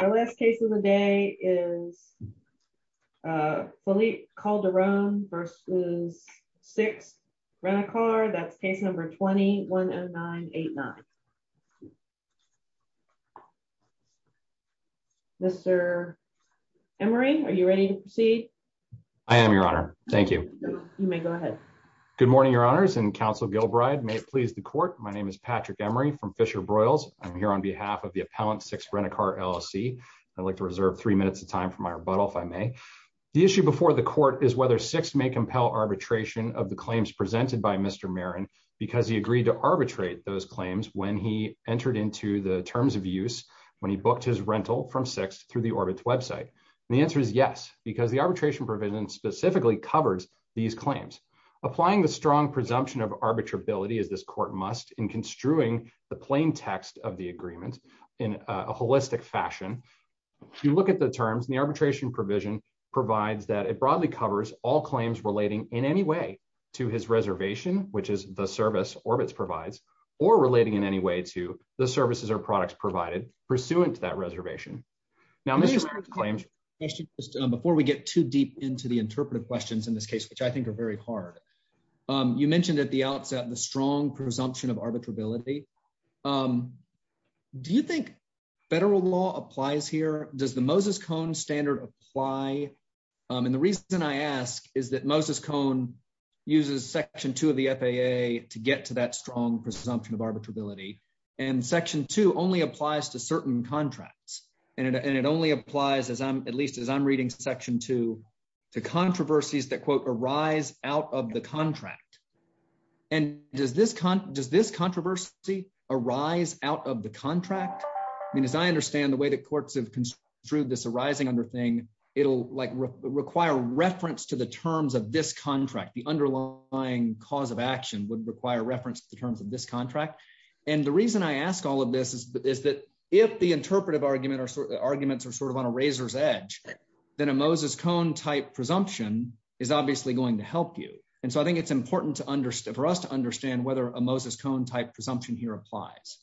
Our last case of the day is Philippe Calderon v. Six Rent A Car That's case number 20-10989 Mr. Emery, are you ready to proceed? I am, Your Honor. Thank you. You may go ahead. Good morning, Your Honors, and Counsel Gilbride. May it please the Court, my name is Patrick Emery from Fisher-Broyles. I'm here on behalf of the appellant, Six Rent A Car, LLC. I'd like to reserve three minutes of time for my rebuttal, if I may. The issue before the Court is whether Six may compel arbitration of the claims presented by Mr. Marin because he agreed to arbitrate those claims when he entered into the terms of use when he booked his rental from Six through the Orbit website. And the answer is yes, because the arbitration provision specifically covers these claims. Applying the strong presumption of arbitrability, as this Court must, in construing the plain text of the agreement in a holistic fashion, you look at the terms and the arbitration provision provides that it broadly covers all claims relating in any way to his reservation, which is the service Orbitz provides, or relating in any way to the services or products provided pursuant to that reservation. Now, Mr. Marin's claims Before we get too deep into the interpretive questions in this case, which I think are very hard, you mentioned at the outset the strong presumption of arbitrability. Do you think federal law applies here? Does the Moses-Cohn standard apply? And the reason I ask is that Moses-Cohn uses Section 2 of the FAA to get to that strong presumption of arbitrability. And Section 2 only applies to certain contracts. And it only applies, at least as I'm reading Section 2, to controversies that, quote, arise out of the contract. And does this controversy arise out of the contract? I mean, as I understand the way that courts have construed this arising under thing, it'll require reference to the terms of this contract. The underlying cause of action would require reference to the terms of this contract. And the reason I ask all of this is that if the interpretive arguments are sort of on a razor's edge, then a Moses-Cohn-type presumption is obviously going to help you. And so I think it's important for us to understand whether a Moses-Cohn-type presumption here applies.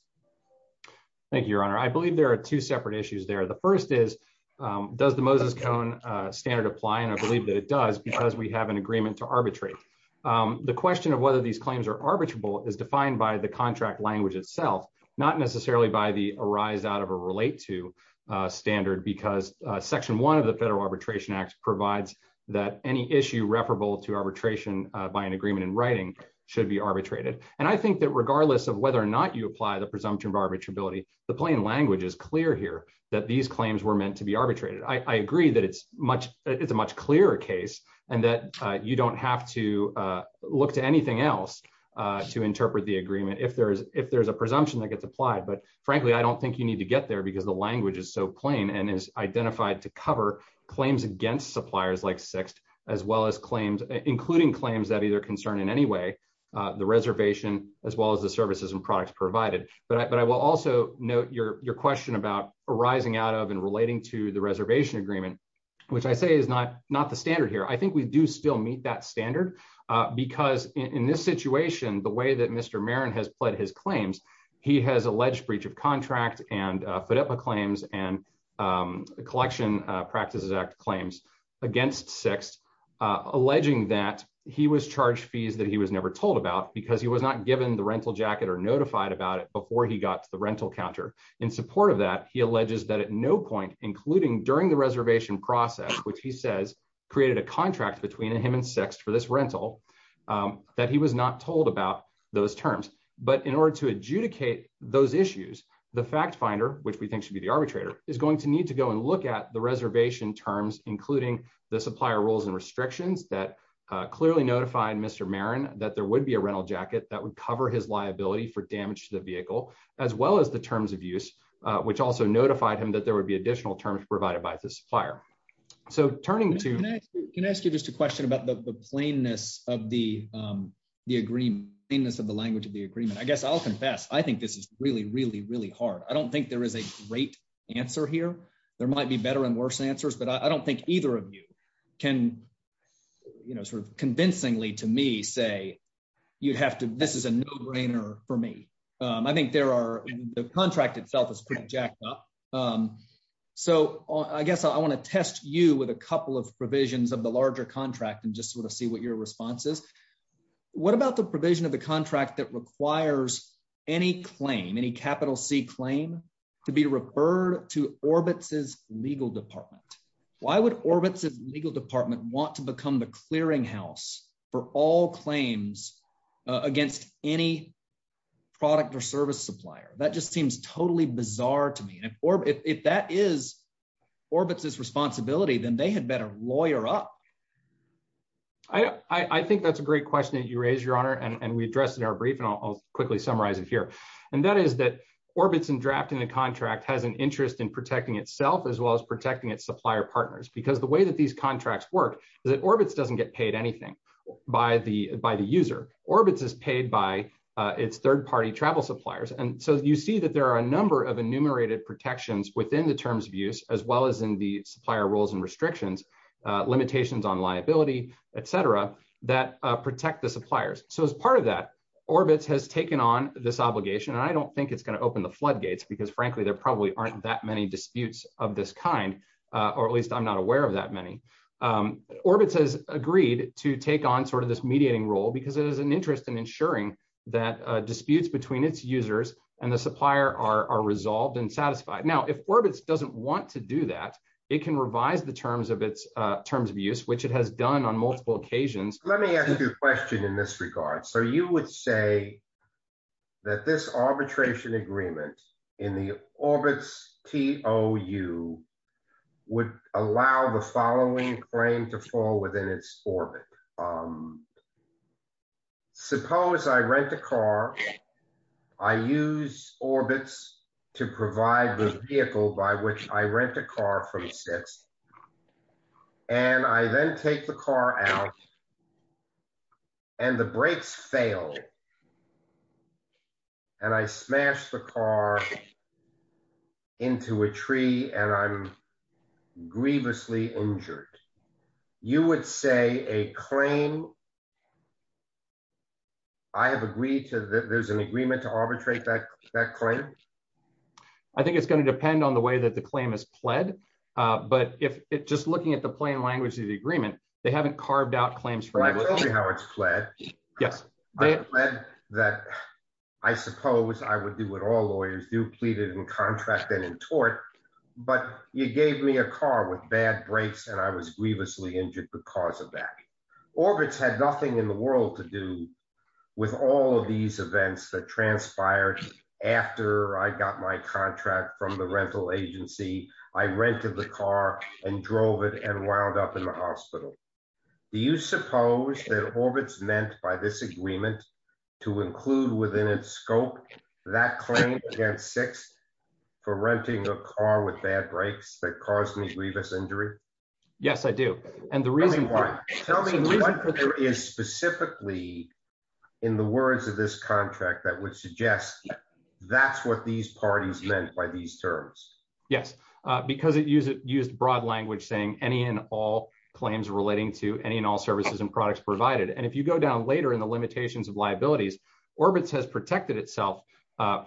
Thank you, Your Honor. I believe there are two separate issues there. The first is, does the Moses-Cohn standard apply? And I believe that it does because we have an agreement to arbitrate. The question of whether these claims are arbitrable is defined by the contract language itself, not necessarily by the arise out of or relate to standard, because Section 1 of the Federal Arbitration Act provides that any issue referable to arbitration by an agreement in writing should be arbitrated. And I think that regardless of whether or not you apply the presumption of arbitrability, the plain language is clear here that these claims were meant to be arbitrated. I agree that it's a much clearer case and that you don't have to look to anything else to interpret the agreement. If there's if there's a presumption that gets applied. But frankly, I don't think you need to get there because the language is so plain and is identified to cover claims against suppliers like Sixth, as well as claims, including claims that either concern in any way the reservation as well as the services and products provided. But I will also note your question about arising out of and relating to the reservation agreement, which I say is not not the standard here. I think we do still meet that standard because in this situation, the way that Mr. Marin has pled his claims, he has alleged breach of contract and FIDEPA claims and the Collection Practices Act claims against Sixth, alleging that he was charged fees that he was never told about because he was not given the rental jacket or notified about it before he got to the rental counter. In support of that, he alleges that at no point, including during the reservation process, which he says created a contract between him and Sixth for this rental, that he was not told about those terms. But in order to adjudicate those issues, the fact finder, which we think should be the arbitrator, is going to need to go and look at the reservation terms, including the supplier rules and restrictions that clearly notified Mr. Marin that there would be a rental jacket that would cover his liability for damage to the vehicle, as well as the terms of use, which also notified him that there would be additional terms provided by the supplier. So turning to. Can I ask you just a question about the plainness of the the agreement, plainness of the language of the agreement? I guess I'll confess. I think this is really, really, really hard. I don't think there is a great answer here. There might be better and worse answers, but I don't think either of you can sort of convincingly to me say you'd have to. This is a no brainer for me. I think there are the contract itself is pretty jacked up. So I guess I want to test you with a couple of provisions of the larger contract and just sort of see what your response is. What about the provision of the contract that requires any claim, any capital C claim to be referred to Orbitz's legal department? Why would Orbitz's legal department want to become the clearinghouse for all claims against any product or service supplier? That just seems totally bizarre to me. And if that is Orbitz's responsibility, then they had better lawyer up. I think that's a great question that you raise, your honor, and we addressed in our brief, and I'll quickly summarize it here. And that is that Orbitz and drafting the contract has an interest in protecting itself as well as protecting its supplier partners, because the way that these contracts work is that Orbitz doesn't get paid anything by the by the user. Orbitz is paid by its third party travel suppliers. And so you see that there are a number of enumerated protections within the terms of use, as well as in the supplier rules and restrictions. Limitations on liability, et cetera, that protect the suppliers. So as part of that, Orbitz has taken on this obligation. And I don't think it's going to open the floodgates because, frankly, there probably aren't that many disputes of this kind, or at least I'm not aware of that many. Orbitz has agreed to take on sort of this mediating role because it is an interest in ensuring that disputes between its users and the supplier are resolved and satisfied. Now, if Orbitz doesn't want to do that, it can revise the terms of its terms of use, which it has done on multiple occasions. Let me ask you a question in this regard. So you would say. That this arbitration agreement in the Orbitz TOU would allow the following frame to fall within its orbit. Suppose I rent a car. I use Orbitz to provide the vehicle by which I rent a car from Sisk. And I then take the car out. And the brakes fail. And I smash the car into a tree and I'm grievously injured. You would say a claim. I have agreed to that there's an agreement to arbitrate that that claim. I think it's going to depend on the way that the claim is pled. But if it just looking at the plain language of the agreement, they haven't carved out claims. Yes. That I suppose I would do what all lawyers do pleaded in contract and in tort. But you gave me a car with bad brakes and I was grievously injured because of that. Orbitz had nothing in the world to do with all of these events that transpired after I got my contract from the rental agency. I rented the car and drove it and wound up in the hospital. Do you suppose that Orbitz meant by this agreement to include within its scope that claim against six for renting a car with bad brakes that caused me to leave this injury? Yes, I do. And the reason why is specifically in the words of this contract that would suggest that's what these parties meant by these terms. Yes, because it used it used broad language saying any and all claims relating to any and all services and products provided. And if you go down later in the limitations of liabilities, Orbitz has protected itself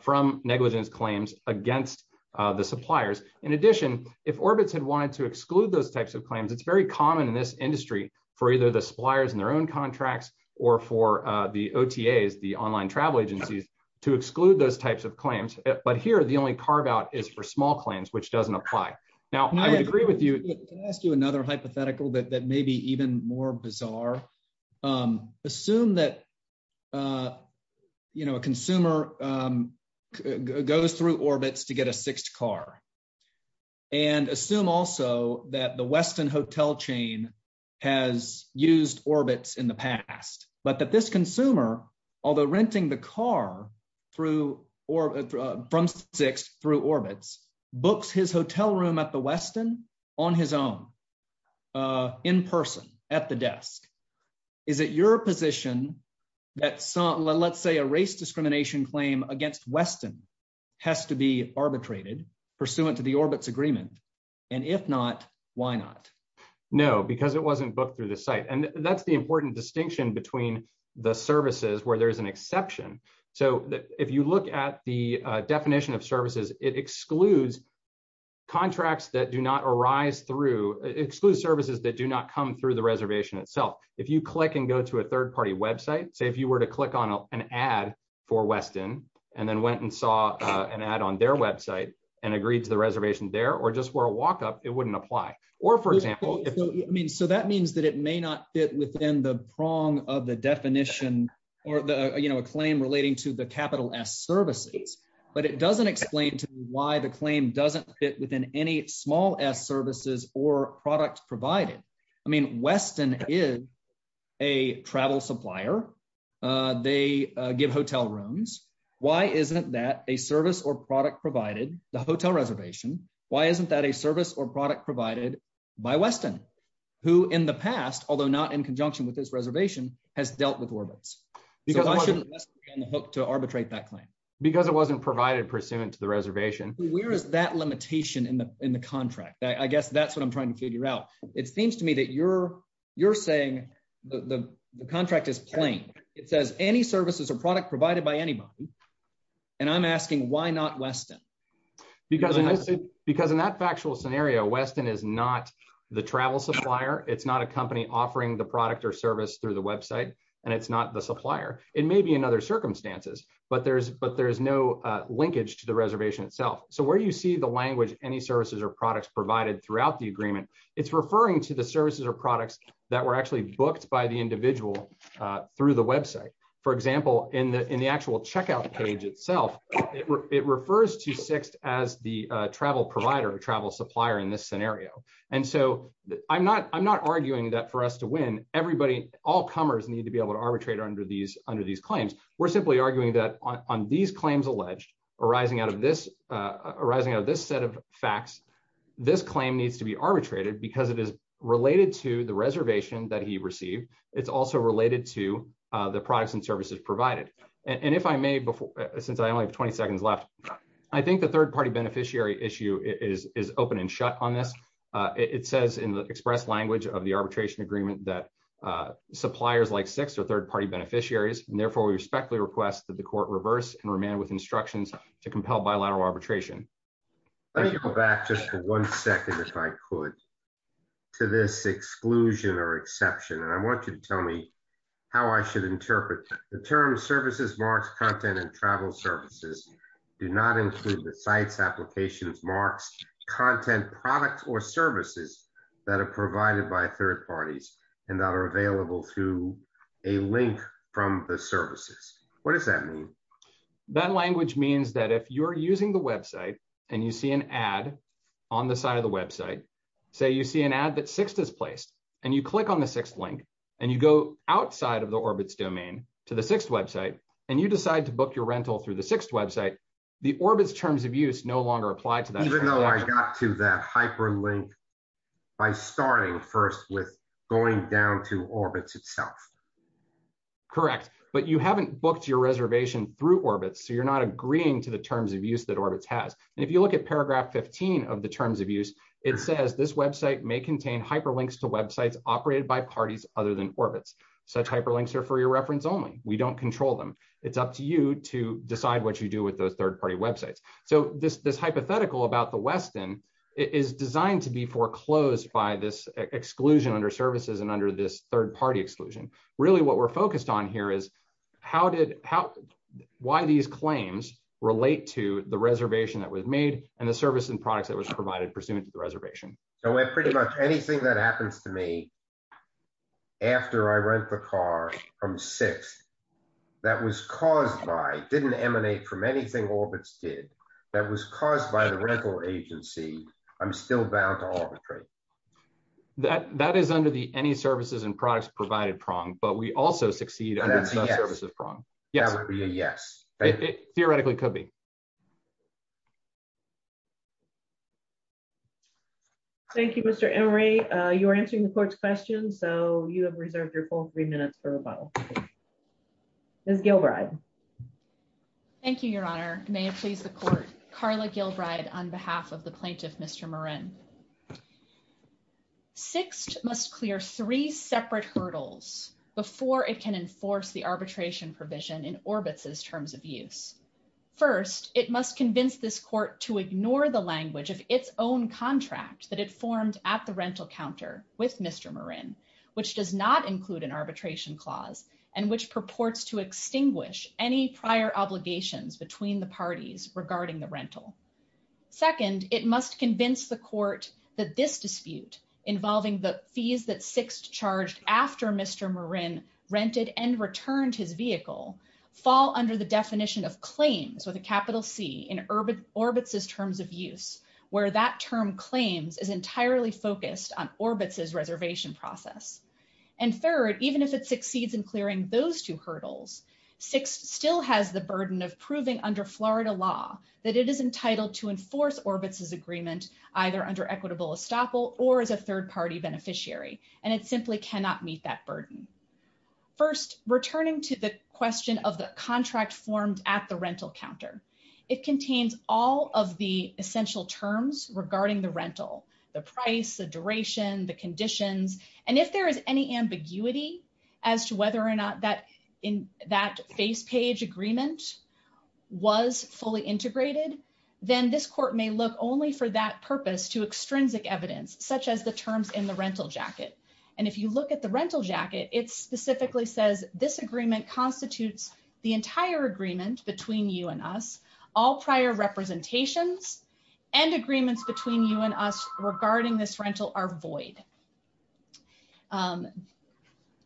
from negligence claims against the suppliers. In addition, if Orbitz had wanted to exclude those types of claims, it's very common in this industry for either the suppliers and their own contracts or for the OTAs, the online travel agencies to exclude those types of claims. But here, the only carve out is for small claims, which doesn't apply. Now, I would agree with you. Can I ask you another hypothetical that may be even more bizarre? Assume that a consumer goes through Orbitz to get a sixth car. And assume also that the Westin hotel chain has used Orbitz in the past, but that this consumer, although renting the car through or from six through Orbitz books his hotel room at the Westin on his own in person at the desk. Is it your position that let's say a race discrimination claim against Westin has to be arbitrated pursuant to the Orbitz agreement? And if not, why not? No, because it wasn't booked through the site. And that's the important distinction between the services where there's an exception. So if you look at the definition of services, it excludes contracts that do not arise through exclude services that do not come through the reservation itself. If you click and go to a third party website, say if you were to click on an ad for Westin, and then went and saw an ad on their website and agreed to the reservation there or just were a walk up, it wouldn't apply. Or for example, I mean, so that means that it may not fit within the prong of the definition, or the, you know, a claim relating to the capital S services, but it doesn't explain to why the claim doesn't fit within any small as services or products provided. I mean, Westin is a travel supplier. They give hotel rooms. Why isn't that a service or product provided the hotel reservation. Why isn't that a service or product provided by Westin, who in the past, although not in conjunction with this reservation has dealt with Orbitz. To arbitrate that claim, because it wasn't provided pursuant to the reservation, where is that limitation in the, in the contract, I guess that's what I'm trying to figure out. It seems to me that you're, you're saying the contract is playing. It says any services or product provided by anybody. And I'm asking why not Westin, because, because in that factual scenario Westin is not the travel supplier, it's not a company offering the product or service through the website. And it's not the supplier, it may be another circumstances, but there's but there's no linkage to the reservation itself. So where you see the language, any services or products provided throughout the agreement. It's referring to the services or products that were actually booked by the individual through the website. For example, in the in the actual checkout page itself. It refers to sixth as the travel provider travel supplier in this scenario. And so, I'm not, I'm not arguing that for us to win, everybody, all comers need to be able to arbitrate under these under these claims, we're simply arguing that on these I think the third party beneficiary issue is, is open and shut on this. It says in the express language of the arbitration agreement that suppliers like six or third party beneficiaries, and therefore we respectfully request that the court reverse and remain with instructions to compel bilateral arbitration. Let me go back just one second if I could to this exclusion or exception and I want you to tell me how I should interpret the term services marks content and travel services, do not include the sites applications marks content products or services that are provided by third parties, and that are available through a link from the services. What does that mean. That language means that if you're using the website, and you see an ad on the side of the website. So you see an ad that sixth is placed, and you click on the sixth link, and you go outside of the orbits domain to the sixth website, and you decide to book your rental through the sixth website, the orbits terms of use no longer apply to that, even though I got to that hyperlink by starting first with going down to orbits itself. Correct, but you haven't booked your reservation through orbits so you're not agreeing to the terms of use that orbits has. And if you look at paragraph 15 of the terms of use, it says this website may contain hyperlinks to websites operated by parties, other than orbits such hyperlinks are for your reference only, we don't control them. It's up to you to decide what you do with those third party websites. So this this hypothetical about the Westin is designed to be foreclosed by this exclusion under services and under this third party exclusion, really what we're focused on here is how did how, why these claims relate to the reservation that was made, and the service and products that was provided pursuant to the reservation. So we're pretty much anything that happens to me. After I rent the car from six. That was caused by didn't emanate from anything orbits did that was caused by the rental agency. I'm still bound to all the trade that that is under the any services and products provided prong but we also succeed. Yes, yes. Theoretically could be. Thank you, Mr. Murray, you're answering the court's question so you have reserved your full three minutes for a bottle is Gilbride. Thank you, Your Honor, may it please the court, Carla Gilbride on behalf of the plaintiff Mr Moran. Six must clear three separate hurdles before it can enforce the arbitration provision in orbits is terms of use. First, it must convince this court to ignore the language of its own contract that it formed at the rental counter with Mr Moran, which does not include an arbitration clause, and which purports to extinguish any prior obligations between the parties regarding the rental. Second, it must convince the court that this dispute, involving the fees that six charged after Mr Moran rented and returned his vehicle fall under the definition of claims with a capital C in urban orbits is terms of use, where that term claims is entirely focused on orbits is reservation process. And third, even if it succeeds in clearing those two hurdles. Six still has the burden of proving under Florida law that it is entitled to enforce orbits is agreement, either under equitable estoppel or as a third party beneficiary, and it simply cannot meet that burden. First, returning to the question of the contract formed at the rental counter. It contains all of the essential terms regarding the rental, the price the duration the conditions, and if there is any ambiguity as to whether or not that in that face page agreement was fully integrated, then this court may look only for that purpose to extrinsic evidence, such as the terms in the rental jacket. And if you look at the rental jacket it specifically says this agreement constitutes the entire agreement between you and us all prior representations and agreements between you and us regarding this rental are void.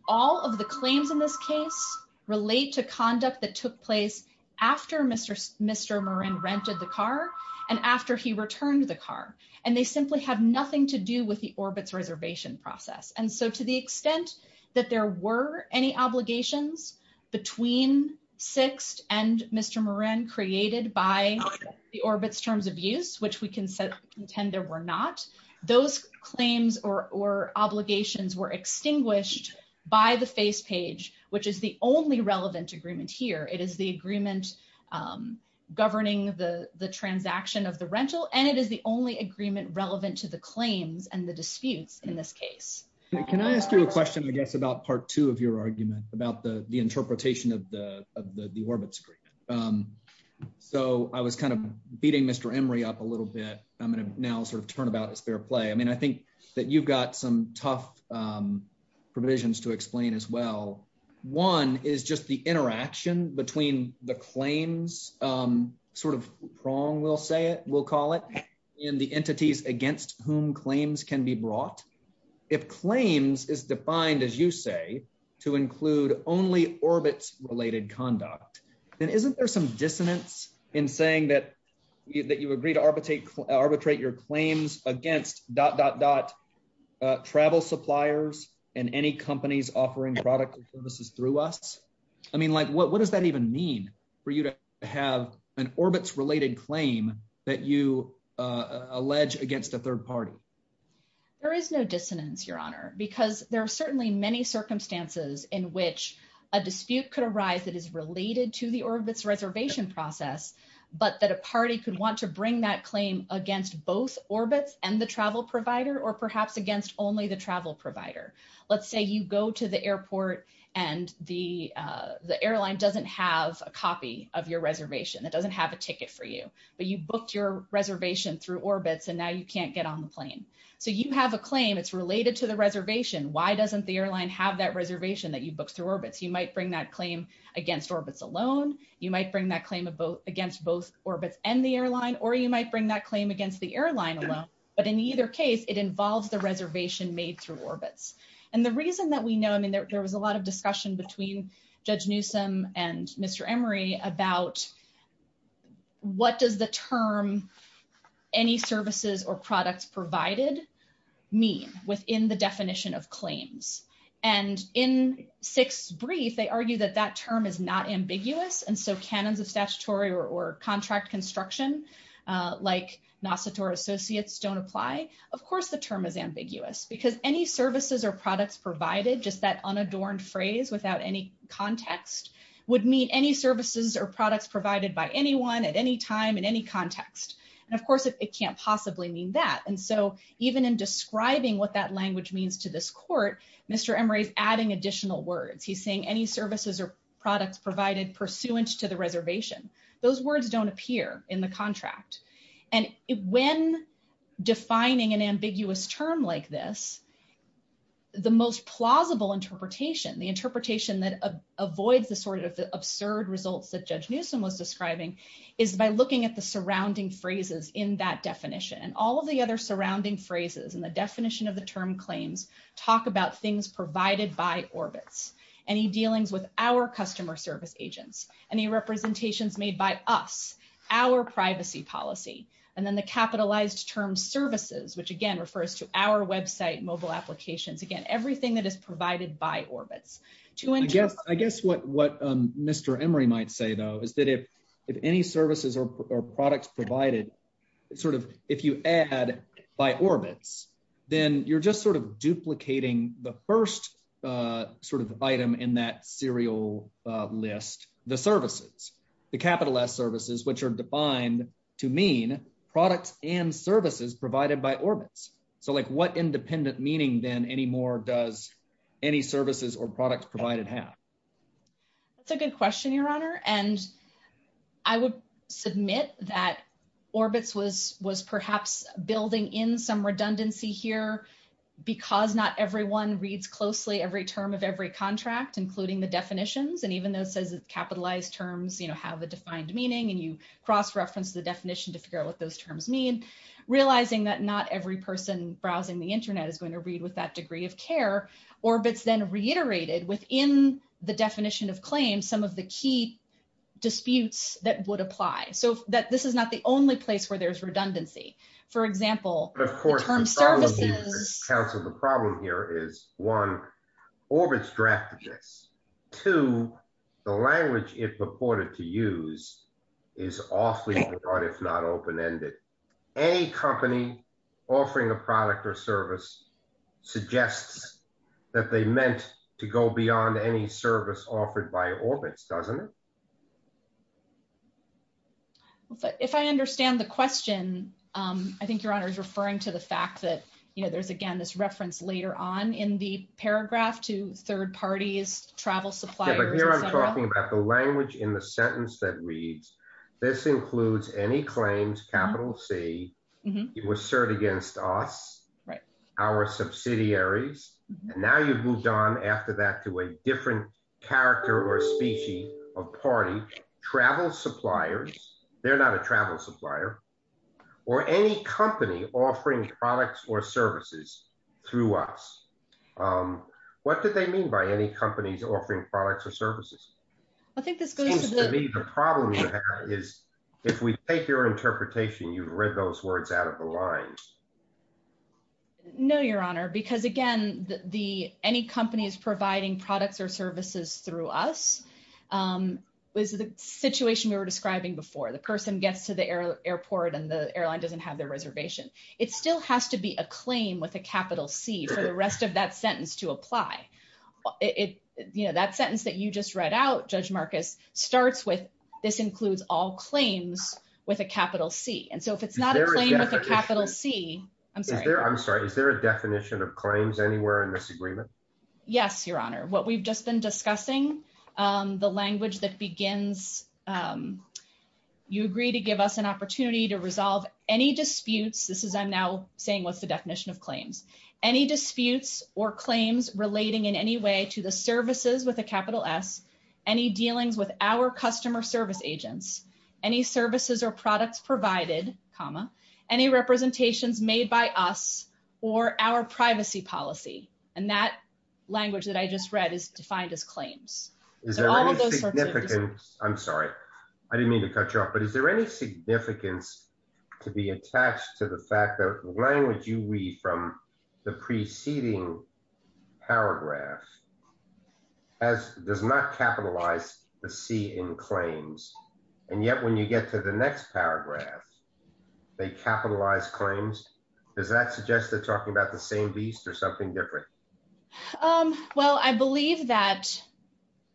All of the claims in this case, relate to conduct that took place after Mr. Mr Moran rented the car, and after he returned the car, and they simply have nothing to do with the orbits reservation process and so to the extent that there were any obligations between six and Mr Moran created by the orbits terms of use which we can set intend there were not those claims or obligations were extinguished by the face page, which is the only relevant agreement here it is the agreement, governing the the transaction of the rental and it is the only agreement relevant to the claims and the disputes. In this case, can I ask you a question I guess about part two of your argument about the, the interpretation of the, the orbits agreement. So I was kind of beating Mr Emory up a little bit. I'm going to now sort of turn about as fair play I mean I think that you've got some tough provisions to explain as well. One is just the interaction between the claims sort of prong will say it will call it in the entities against whom claims can be brought if claims is defined as you say to include only orbits related conduct, and isn't there some dissonance in saying that, that you agree to arbitrate arbitrate your claims against dot dot dot travel suppliers, and any companies offering products and services through us. I mean like what what does that even mean for you to have an orbits related claim that you allege against a third party. There is no dissonance, Your Honor, because there are certainly many circumstances in which a dispute could arise that is related to the orbits reservation process, but that a party could want to bring that claim against both orbits and the travel provider or perhaps against only the travel provider. Let's say you go to the airport, and the, the airline doesn't have a copy of your reservation that doesn't have a ticket for you, but you booked your reservation through orbits and now you can't get on the plane. So you have a claim it's related to the reservation why doesn't the airline have that reservation that you booked through orbits you might bring that claim against orbits alone. You might bring that claim against both orbits and the airline or you might bring that claim against the airline alone, but in either case, it involves the reservation made through orbits. And the reason that we know I mean there was a lot of discussion between Judge Newsome and Mr. Emery about what does the term. Any services or products provided me within the definition of claims, and in six brief they argue that that term is not ambiguous and so cannons of statutory or contract construction, like NASA tour associates don't apply. Of course the term is ambiguous because any services or products provided just that unadorned phrase without any context would mean any services or products provided by anyone at any time in any context. And of course it can't possibly mean that and so even in describing what that language means to this court, Mr. Emery is adding additional words he's saying any services or products provided pursuant to the reservation. Those words don't appear in the contract. And when defining an ambiguous term like this. The most plausible interpretation the interpretation that avoids the sort of absurd results that Judge Newsome was describing is by looking at the surrounding phrases in that definition and all of the other surrounding phrases and the definition of the term claims. And then the capitalized term services which again refers to our website mobile applications again everything that is provided by orbits to adjust I guess what what Mr. Emery might say though is that if if any services or products provided, sort of, if you add by orbits, then you're just sort of duplicating the first sort of item in that serial list, the services, the capital S services which are defined to mean products and services provided by orbits. So like what independent meaning then anymore does any services or products provided half. That's a good question, Your Honor, and I would submit that orbits was was perhaps building in some redundancy here, because not everyone reads closely every term of every contract including the definitions and even though it says it's capitalized terms you know have a defined meaning and you cross reference the definition to figure out what those terms mean realizing that not every person browsing the internet is going to read with that degree of care orbits then reiterated within the definition of claim some of the key disputes that would apply so that this is not the only place where there's redundancy. For example, of course, the problem here is one orbits drafted this to the language, it purported to use is awfully hard if not open ended any company offering a product or service suggests that they meant to go beyond any service offered by orbits doesn't it. If I understand the question. I think your honor is referring to the fact that, you know, there's again this reference later on in the paragraph to third parties travel suppliers. Okay, but here I'm talking about the language in the sentence that reads. This includes any claims capital C, you assert against us, our subsidiaries, and now you've moved on after that to a different character or a specie of party travel suppliers. They're not a travel supplier, or any company offering products or services through us. What did they mean by any companies offering products or services. I think this goes to me the problem is, if we take your interpretation you've read those words out of the lines. No, Your Honor, because again, the any companies providing products or services through us was the situation we were describing before the person gets to the airport and the airline doesn't have their reservation. It still has to be a claim with a capital C for the rest of that sentence to apply it, you know that sentence that you just read out Judge Marcus starts with this includes all claims with a capital C and so if it's not a capital C. I'm sorry, I'm sorry. Is there a definition of claims anywhere in this agreement. Yes, Your Honor, what we've just been discussing the language that begins. You agree to give us an opportunity to resolve any disputes, this is I'm now saying what's the definition of claims, any disputes or claims relating in any way to the services with a capital S. Any dealings with our customer service agents, any services or products provided, comma, any representations made by us, or our privacy policy, and that language that I just read is defined as claims. I'm sorry, I didn't mean to cut you off but is there any significance to be attached to the fact that language you read from the preceding paragraph, as does not capitalize the C in claims. And yet when you get to the next paragraph, they capitalize claims. Does that suggest that talking about the same beast or something different. Well, I believe that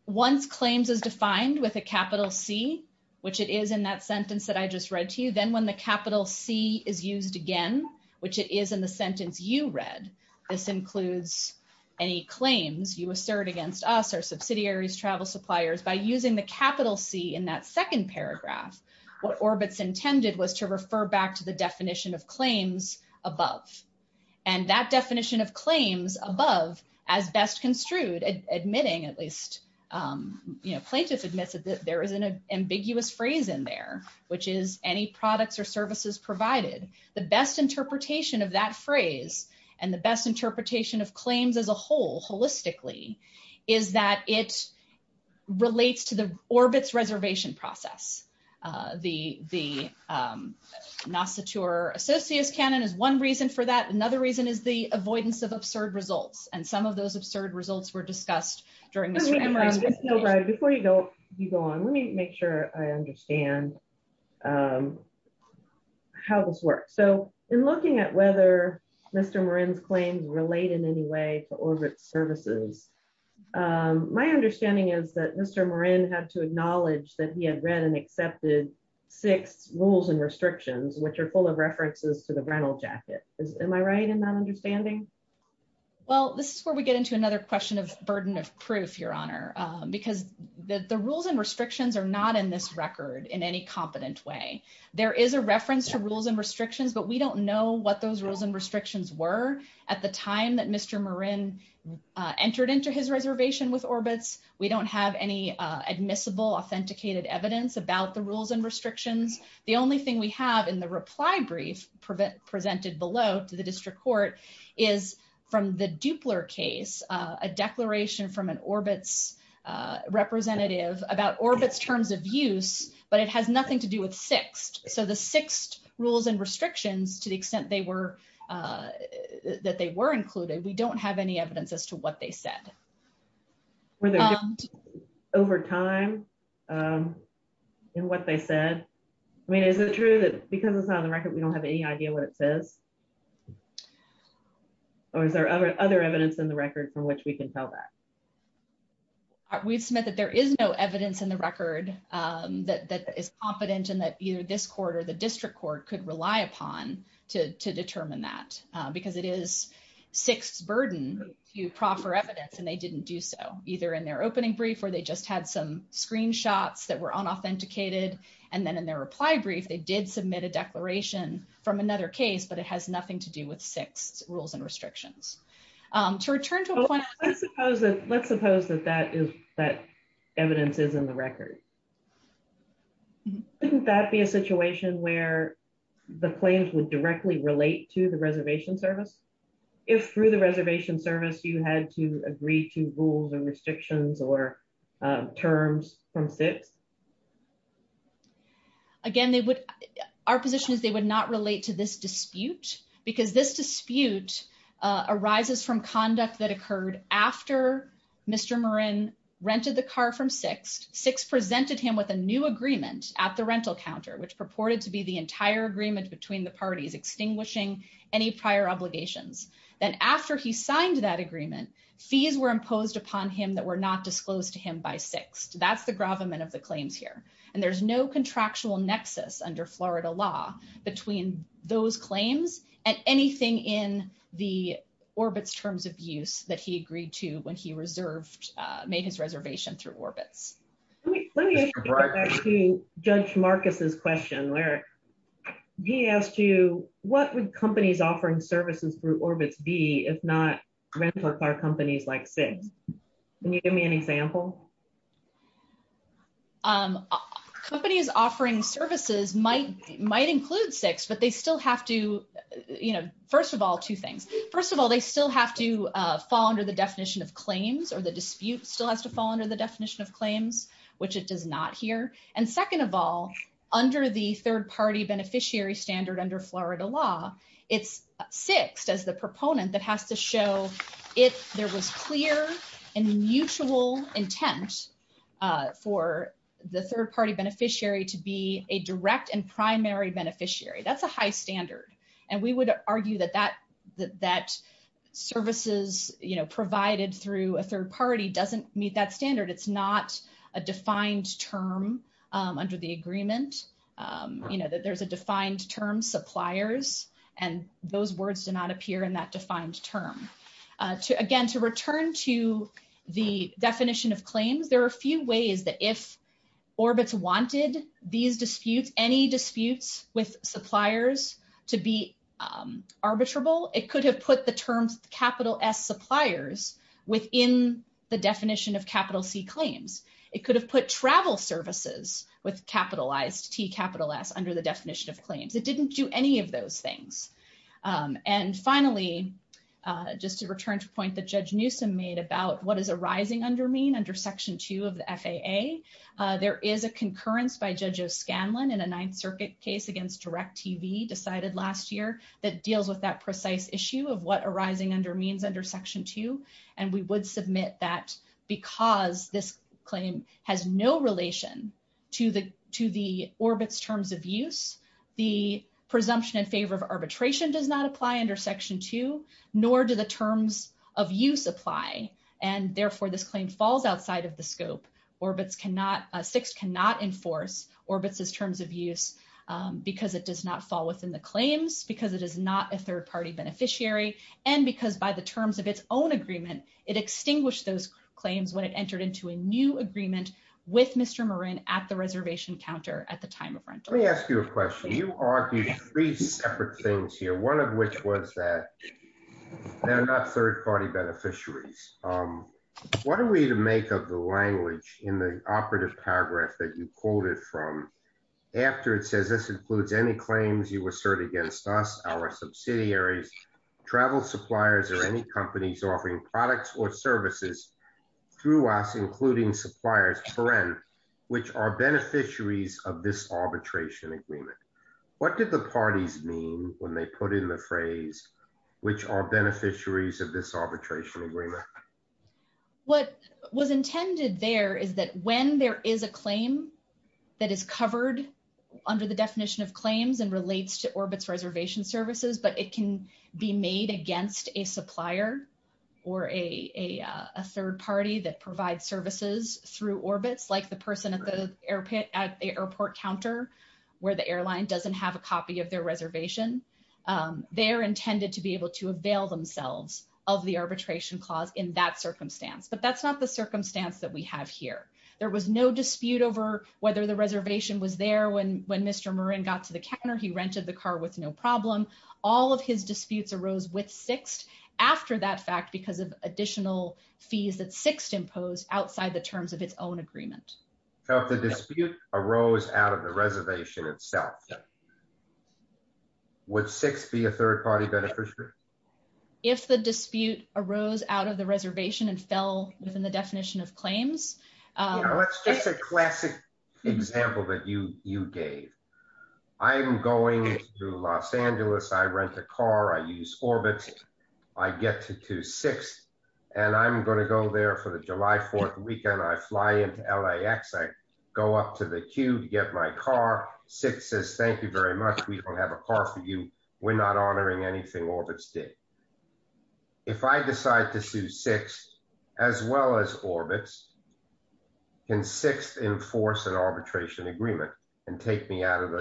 once claims is defined with a capital C, which it is in that sentence that I just read to you then when the capital C is used again, which it is in the sentence you read this includes any claims you assert against us our subsidiaries travel suppliers by using the capital C in that second paragraph, what orbits intended was to refer back to the definition of claims, above, and that definition of claims above as best construed admitting at least, you know plaintiffs admitted that there was an ambiguous phrase in there, which is any products or services provided the best interpretation of that phrase, and the best interpretation of claims as a whole holistically, is that it relates to the orbits reservation process. The, the NASA tour associates canon is one reason for that. Another reason is the avoidance of absurd results and some of those absurd results were discussed during right before you go, you go on, let me make sure I understand how this works. So, in looking at whether Mr Moran's claims relate in any way to orbit services. My understanding is that Mr Moran had to acknowledge that he had read and accepted six rules and restrictions which are full of references to the rental jacket. Am I right in that understanding. Well, this is where we get into another question of burden of proof, Your Honor, because the rules and restrictions are not in this record in any competent way. There is a reference to rules and restrictions but we don't know what those rules and restrictions were at the time that Mr Moran entered into his reservation with orbits, we don't have any admissible authenticated evidence about the rules and restrictions. The only thing we have in the reply brief prevent presented below to the district court is from the Dupler case, a declaration from an orbits representative about orbits terms of use, but it has nothing to do with six. So the six rules and restrictions to the extent they were that they were included we don't have any evidence as to what they said. Whether over time. And what they said, I mean is it true that because it's not on the record we don't have any idea what it says, or is there other other evidence in the record from which we can tell that we submit that there is no evidence in the record that is competent that either this quarter the district court could rely upon to determine that, because it is six burden you proffer evidence and they didn't do so, either in their opening brief or they just had some screenshots that were on authenticated, and then in their Would that be a situation where the claims would directly relate to the reservation service. If through the reservation service you had to agree to rules and restrictions or terms from six. Again, they would our position is they would not relate to this dispute, because this dispute arises from conduct that occurred after Mr Marin rented the car from six six presented him with a new agreement at the rental counter which purported to be the entire agreement between the parties extinguishing any prior obligations, then after he signed that agreement fees were imposed upon him that were not disclosed to him by six, that's the gravamen of the claims here, and there's no contractual nexus under Florida law between those claims, and anything in the orbits terms of use that he agreed to when he reserved made his reservation through orbits. Let me ask you, Judge Marcus's question where he asked you, what would companies offering services through orbits be if not rental car companies like six. Can you give me an example. Companies offering services might might include six but they still have to, you know, first of all, two things. First of all, they still have to fall under the definition of claims or the dispute still has to fall under the definition of claims, which it does not here. And second of all, under the third party beneficiary standard under Florida law. It's six as the proponent that has to show it, there was clear and mutual intent for the third party beneficiary to be a direct and primary beneficiary that's a high standard, and we would argue that that that services, you know provided through a third party doesn't meet that standard it's not a defined term under the agreement, you know that there's a defined term suppliers, and those words do not appear in that defined term to again And to return to the definition of claims there are a few ways that if orbits wanted these disputes, any disputes with suppliers to be arbitrable, it could have put the terms, capital S suppliers within the definition of capital C claims, it could have put travel services with capitalized T capital S under the definition of claims it didn't do any of those things. And finally, just to return to point that Judge Newsome made about what is arising under mean under section two of the FAA. There is a concurrence by judges Scanlon in a Ninth Circuit case against direct TV decided last year that deals with that precise issue of what to the, to the orbits terms of use the presumption in favor of arbitration does not apply under section two, nor do the terms of use apply, and therefore this claim falls outside of the scope orbits cannot six cannot enforce orbits as terms of use, because it does not fall within the claims because it is not a third party beneficiary, and because by the terms of its own agreement, it extinguished those claims when it entered into a new agreement with Mr Marin at the reservation counter at the time of rent. Let me ask you a question you argue three separate things here one of which was that they're not third party beneficiaries. What are we to make up the language in the operative paragraph that you quoted from after it says this includes any claims you assert against us our subsidiaries travel suppliers or any companies offering products or services through us including suppliers which are beneficiaries of this arbitration agreement. What did the parties mean when they put in the phrase, which are beneficiaries of this arbitration agreement. What was intended there is that when there is a claim that is covered under the definition of claims and relates to orbits reservation services but it can be made against a supplier or a third party that provide services through orbits like the person at the But that's not the circumstance that we have here. There was no dispute over whether the reservation was there when when Mr Marin got to the counter he rented the car with no problem. All of his disputes arose with six after that fact because of additional fees that six impose outside the terms of its own agreement. So if the dispute arose out of the reservation itself. What six be a third party beneficiary. If the dispute arose out of the reservation and fell within the definition of claims. That's just a classic example that you you gave. I'm going to Los Angeles I rent a car I use orbit. I get to to six, and I'm going to go there for the July 4 weekend I fly into la x I go up to the queue to get my car six says thank you very much. We don't have a car for you. We're not honoring anything orbits day. If I decide to sue six, as well as orbits can six enforce an arbitration agreement and take me out of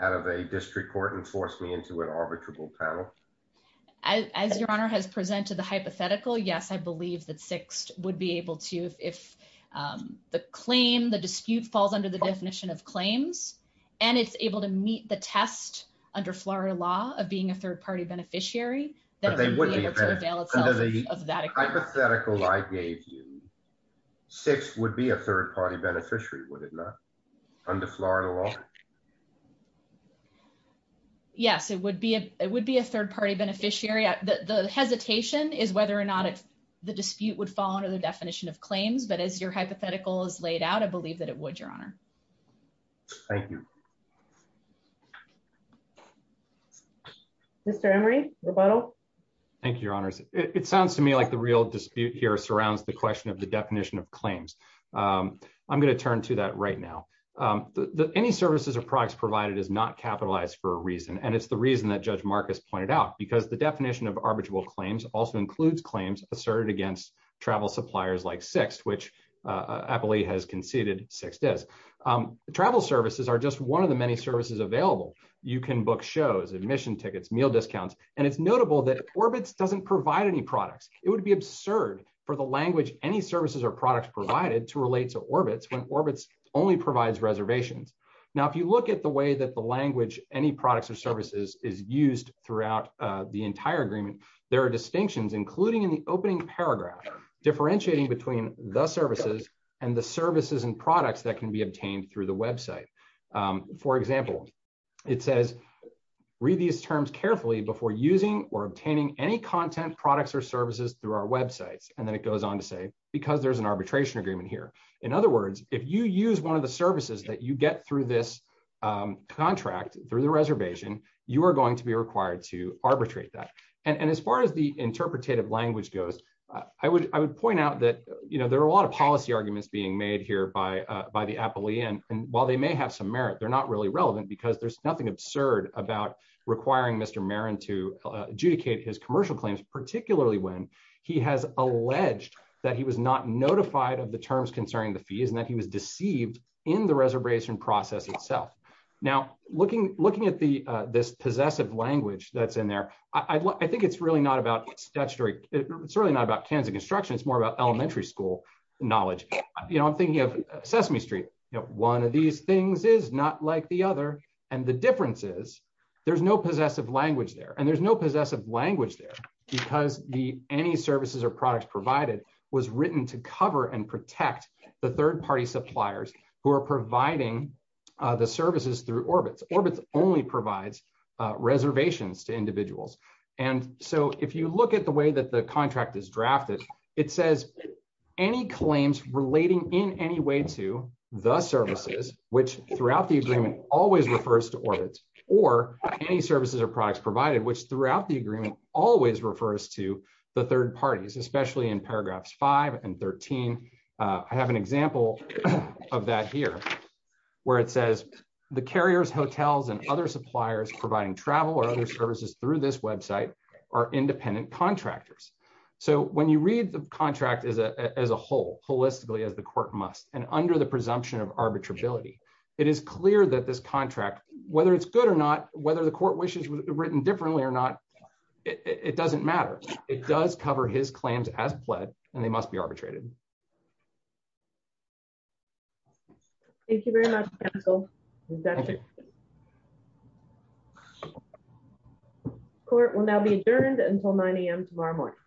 out of a district court and force me into an arbitrable panel. As your honor has presented the hypothetical yes I believe that six would be able to if the claim the dispute falls under the definition of claims, and it's able to meet the test under Florida law of being a third party beneficiary that they would be able to avail of that hypothetical I gave you six would be a third party beneficiary would it not under Florida law. Yes, it would be a, it would be a third party beneficiary at the hesitation is whether or not it's the dispute would fall under the definition of claims but as your hypothetical is laid out I believe that it would your honor. Thank you. Mr Murray rebuttal. Thank you, your honors, it sounds to me like the real dispute here surrounds the question of the definition of claims. I'm going to turn to that right now. The any services or products provided is not capitalized for a reason and it's the reason that Judge Marcus pointed out because the definition of arbitrable claims also includes claims asserted against travel suppliers like six which I believe has conceded travel services are just one of the many services available. You can book shows admission tickets meal discounts, and it's notable that orbits doesn't provide any products, it would be absurd for the language, any services or products provided to relate to orbits when orbits only provides reservations. Now if you look at the way that the language, any products or services is used throughout the entire agreement. There are distinctions including in the opening paragraph, differentiating between the services and the services and products that can be obtained through the website. For example, it says, read these terms carefully before using or obtaining any content products or services through our websites, and then it goes on to say, because there's an arbitration agreement here. In other words, if you use one of the services that you get through this contract through the reservation, you are going to be required to arbitrate that. And as far as the interpretative language goes, I would, I would point out that, you know, there are a lot of policy arguments being made here by by the Apple Ian, and while they may have some merit they're not really relevant because there's nothing absurd about requiring Mr Marin to adjudicate his commercial claims, particularly when he has alleged that he was not notified of the terms concerning the fees and that he was deceived in the reservation process itself. Now, looking, looking at the, this possessive language that's in there. I think it's really not about statutory, it's really not about Kansas construction it's more about elementary school knowledge, you know I'm thinking of Sesame Street, you know, one of these things is not like the other. And the differences. There's no possessive language there and there's no possessive language there, because the any services or products provided was written to cover and protect the third party suppliers who are providing the services through orbits orbits orbits only provides reservations to individuals. And so, if you look at the way that the contract is drafted. It says, any claims relating in any way to the services, which throughout the agreement, always refers to orbit, or any services or products provided which throughout the agreement, always refers to the third parties, especially in paragraphs five and 13. I have an example of that here, where it says the carriers hotels and other suppliers providing travel or other services through this website are independent contractors. So when you read the contract as a whole holistically as the court must, and under the presumption of arbitrability. It is clear that this contract, whether it's good or not, whether the court wishes written differently or not, it doesn't matter. It does cover his claims as pled, and they must be arbitrated. Thank you very much. Thank you. Court will now be adjourned until 9am tomorrow morning.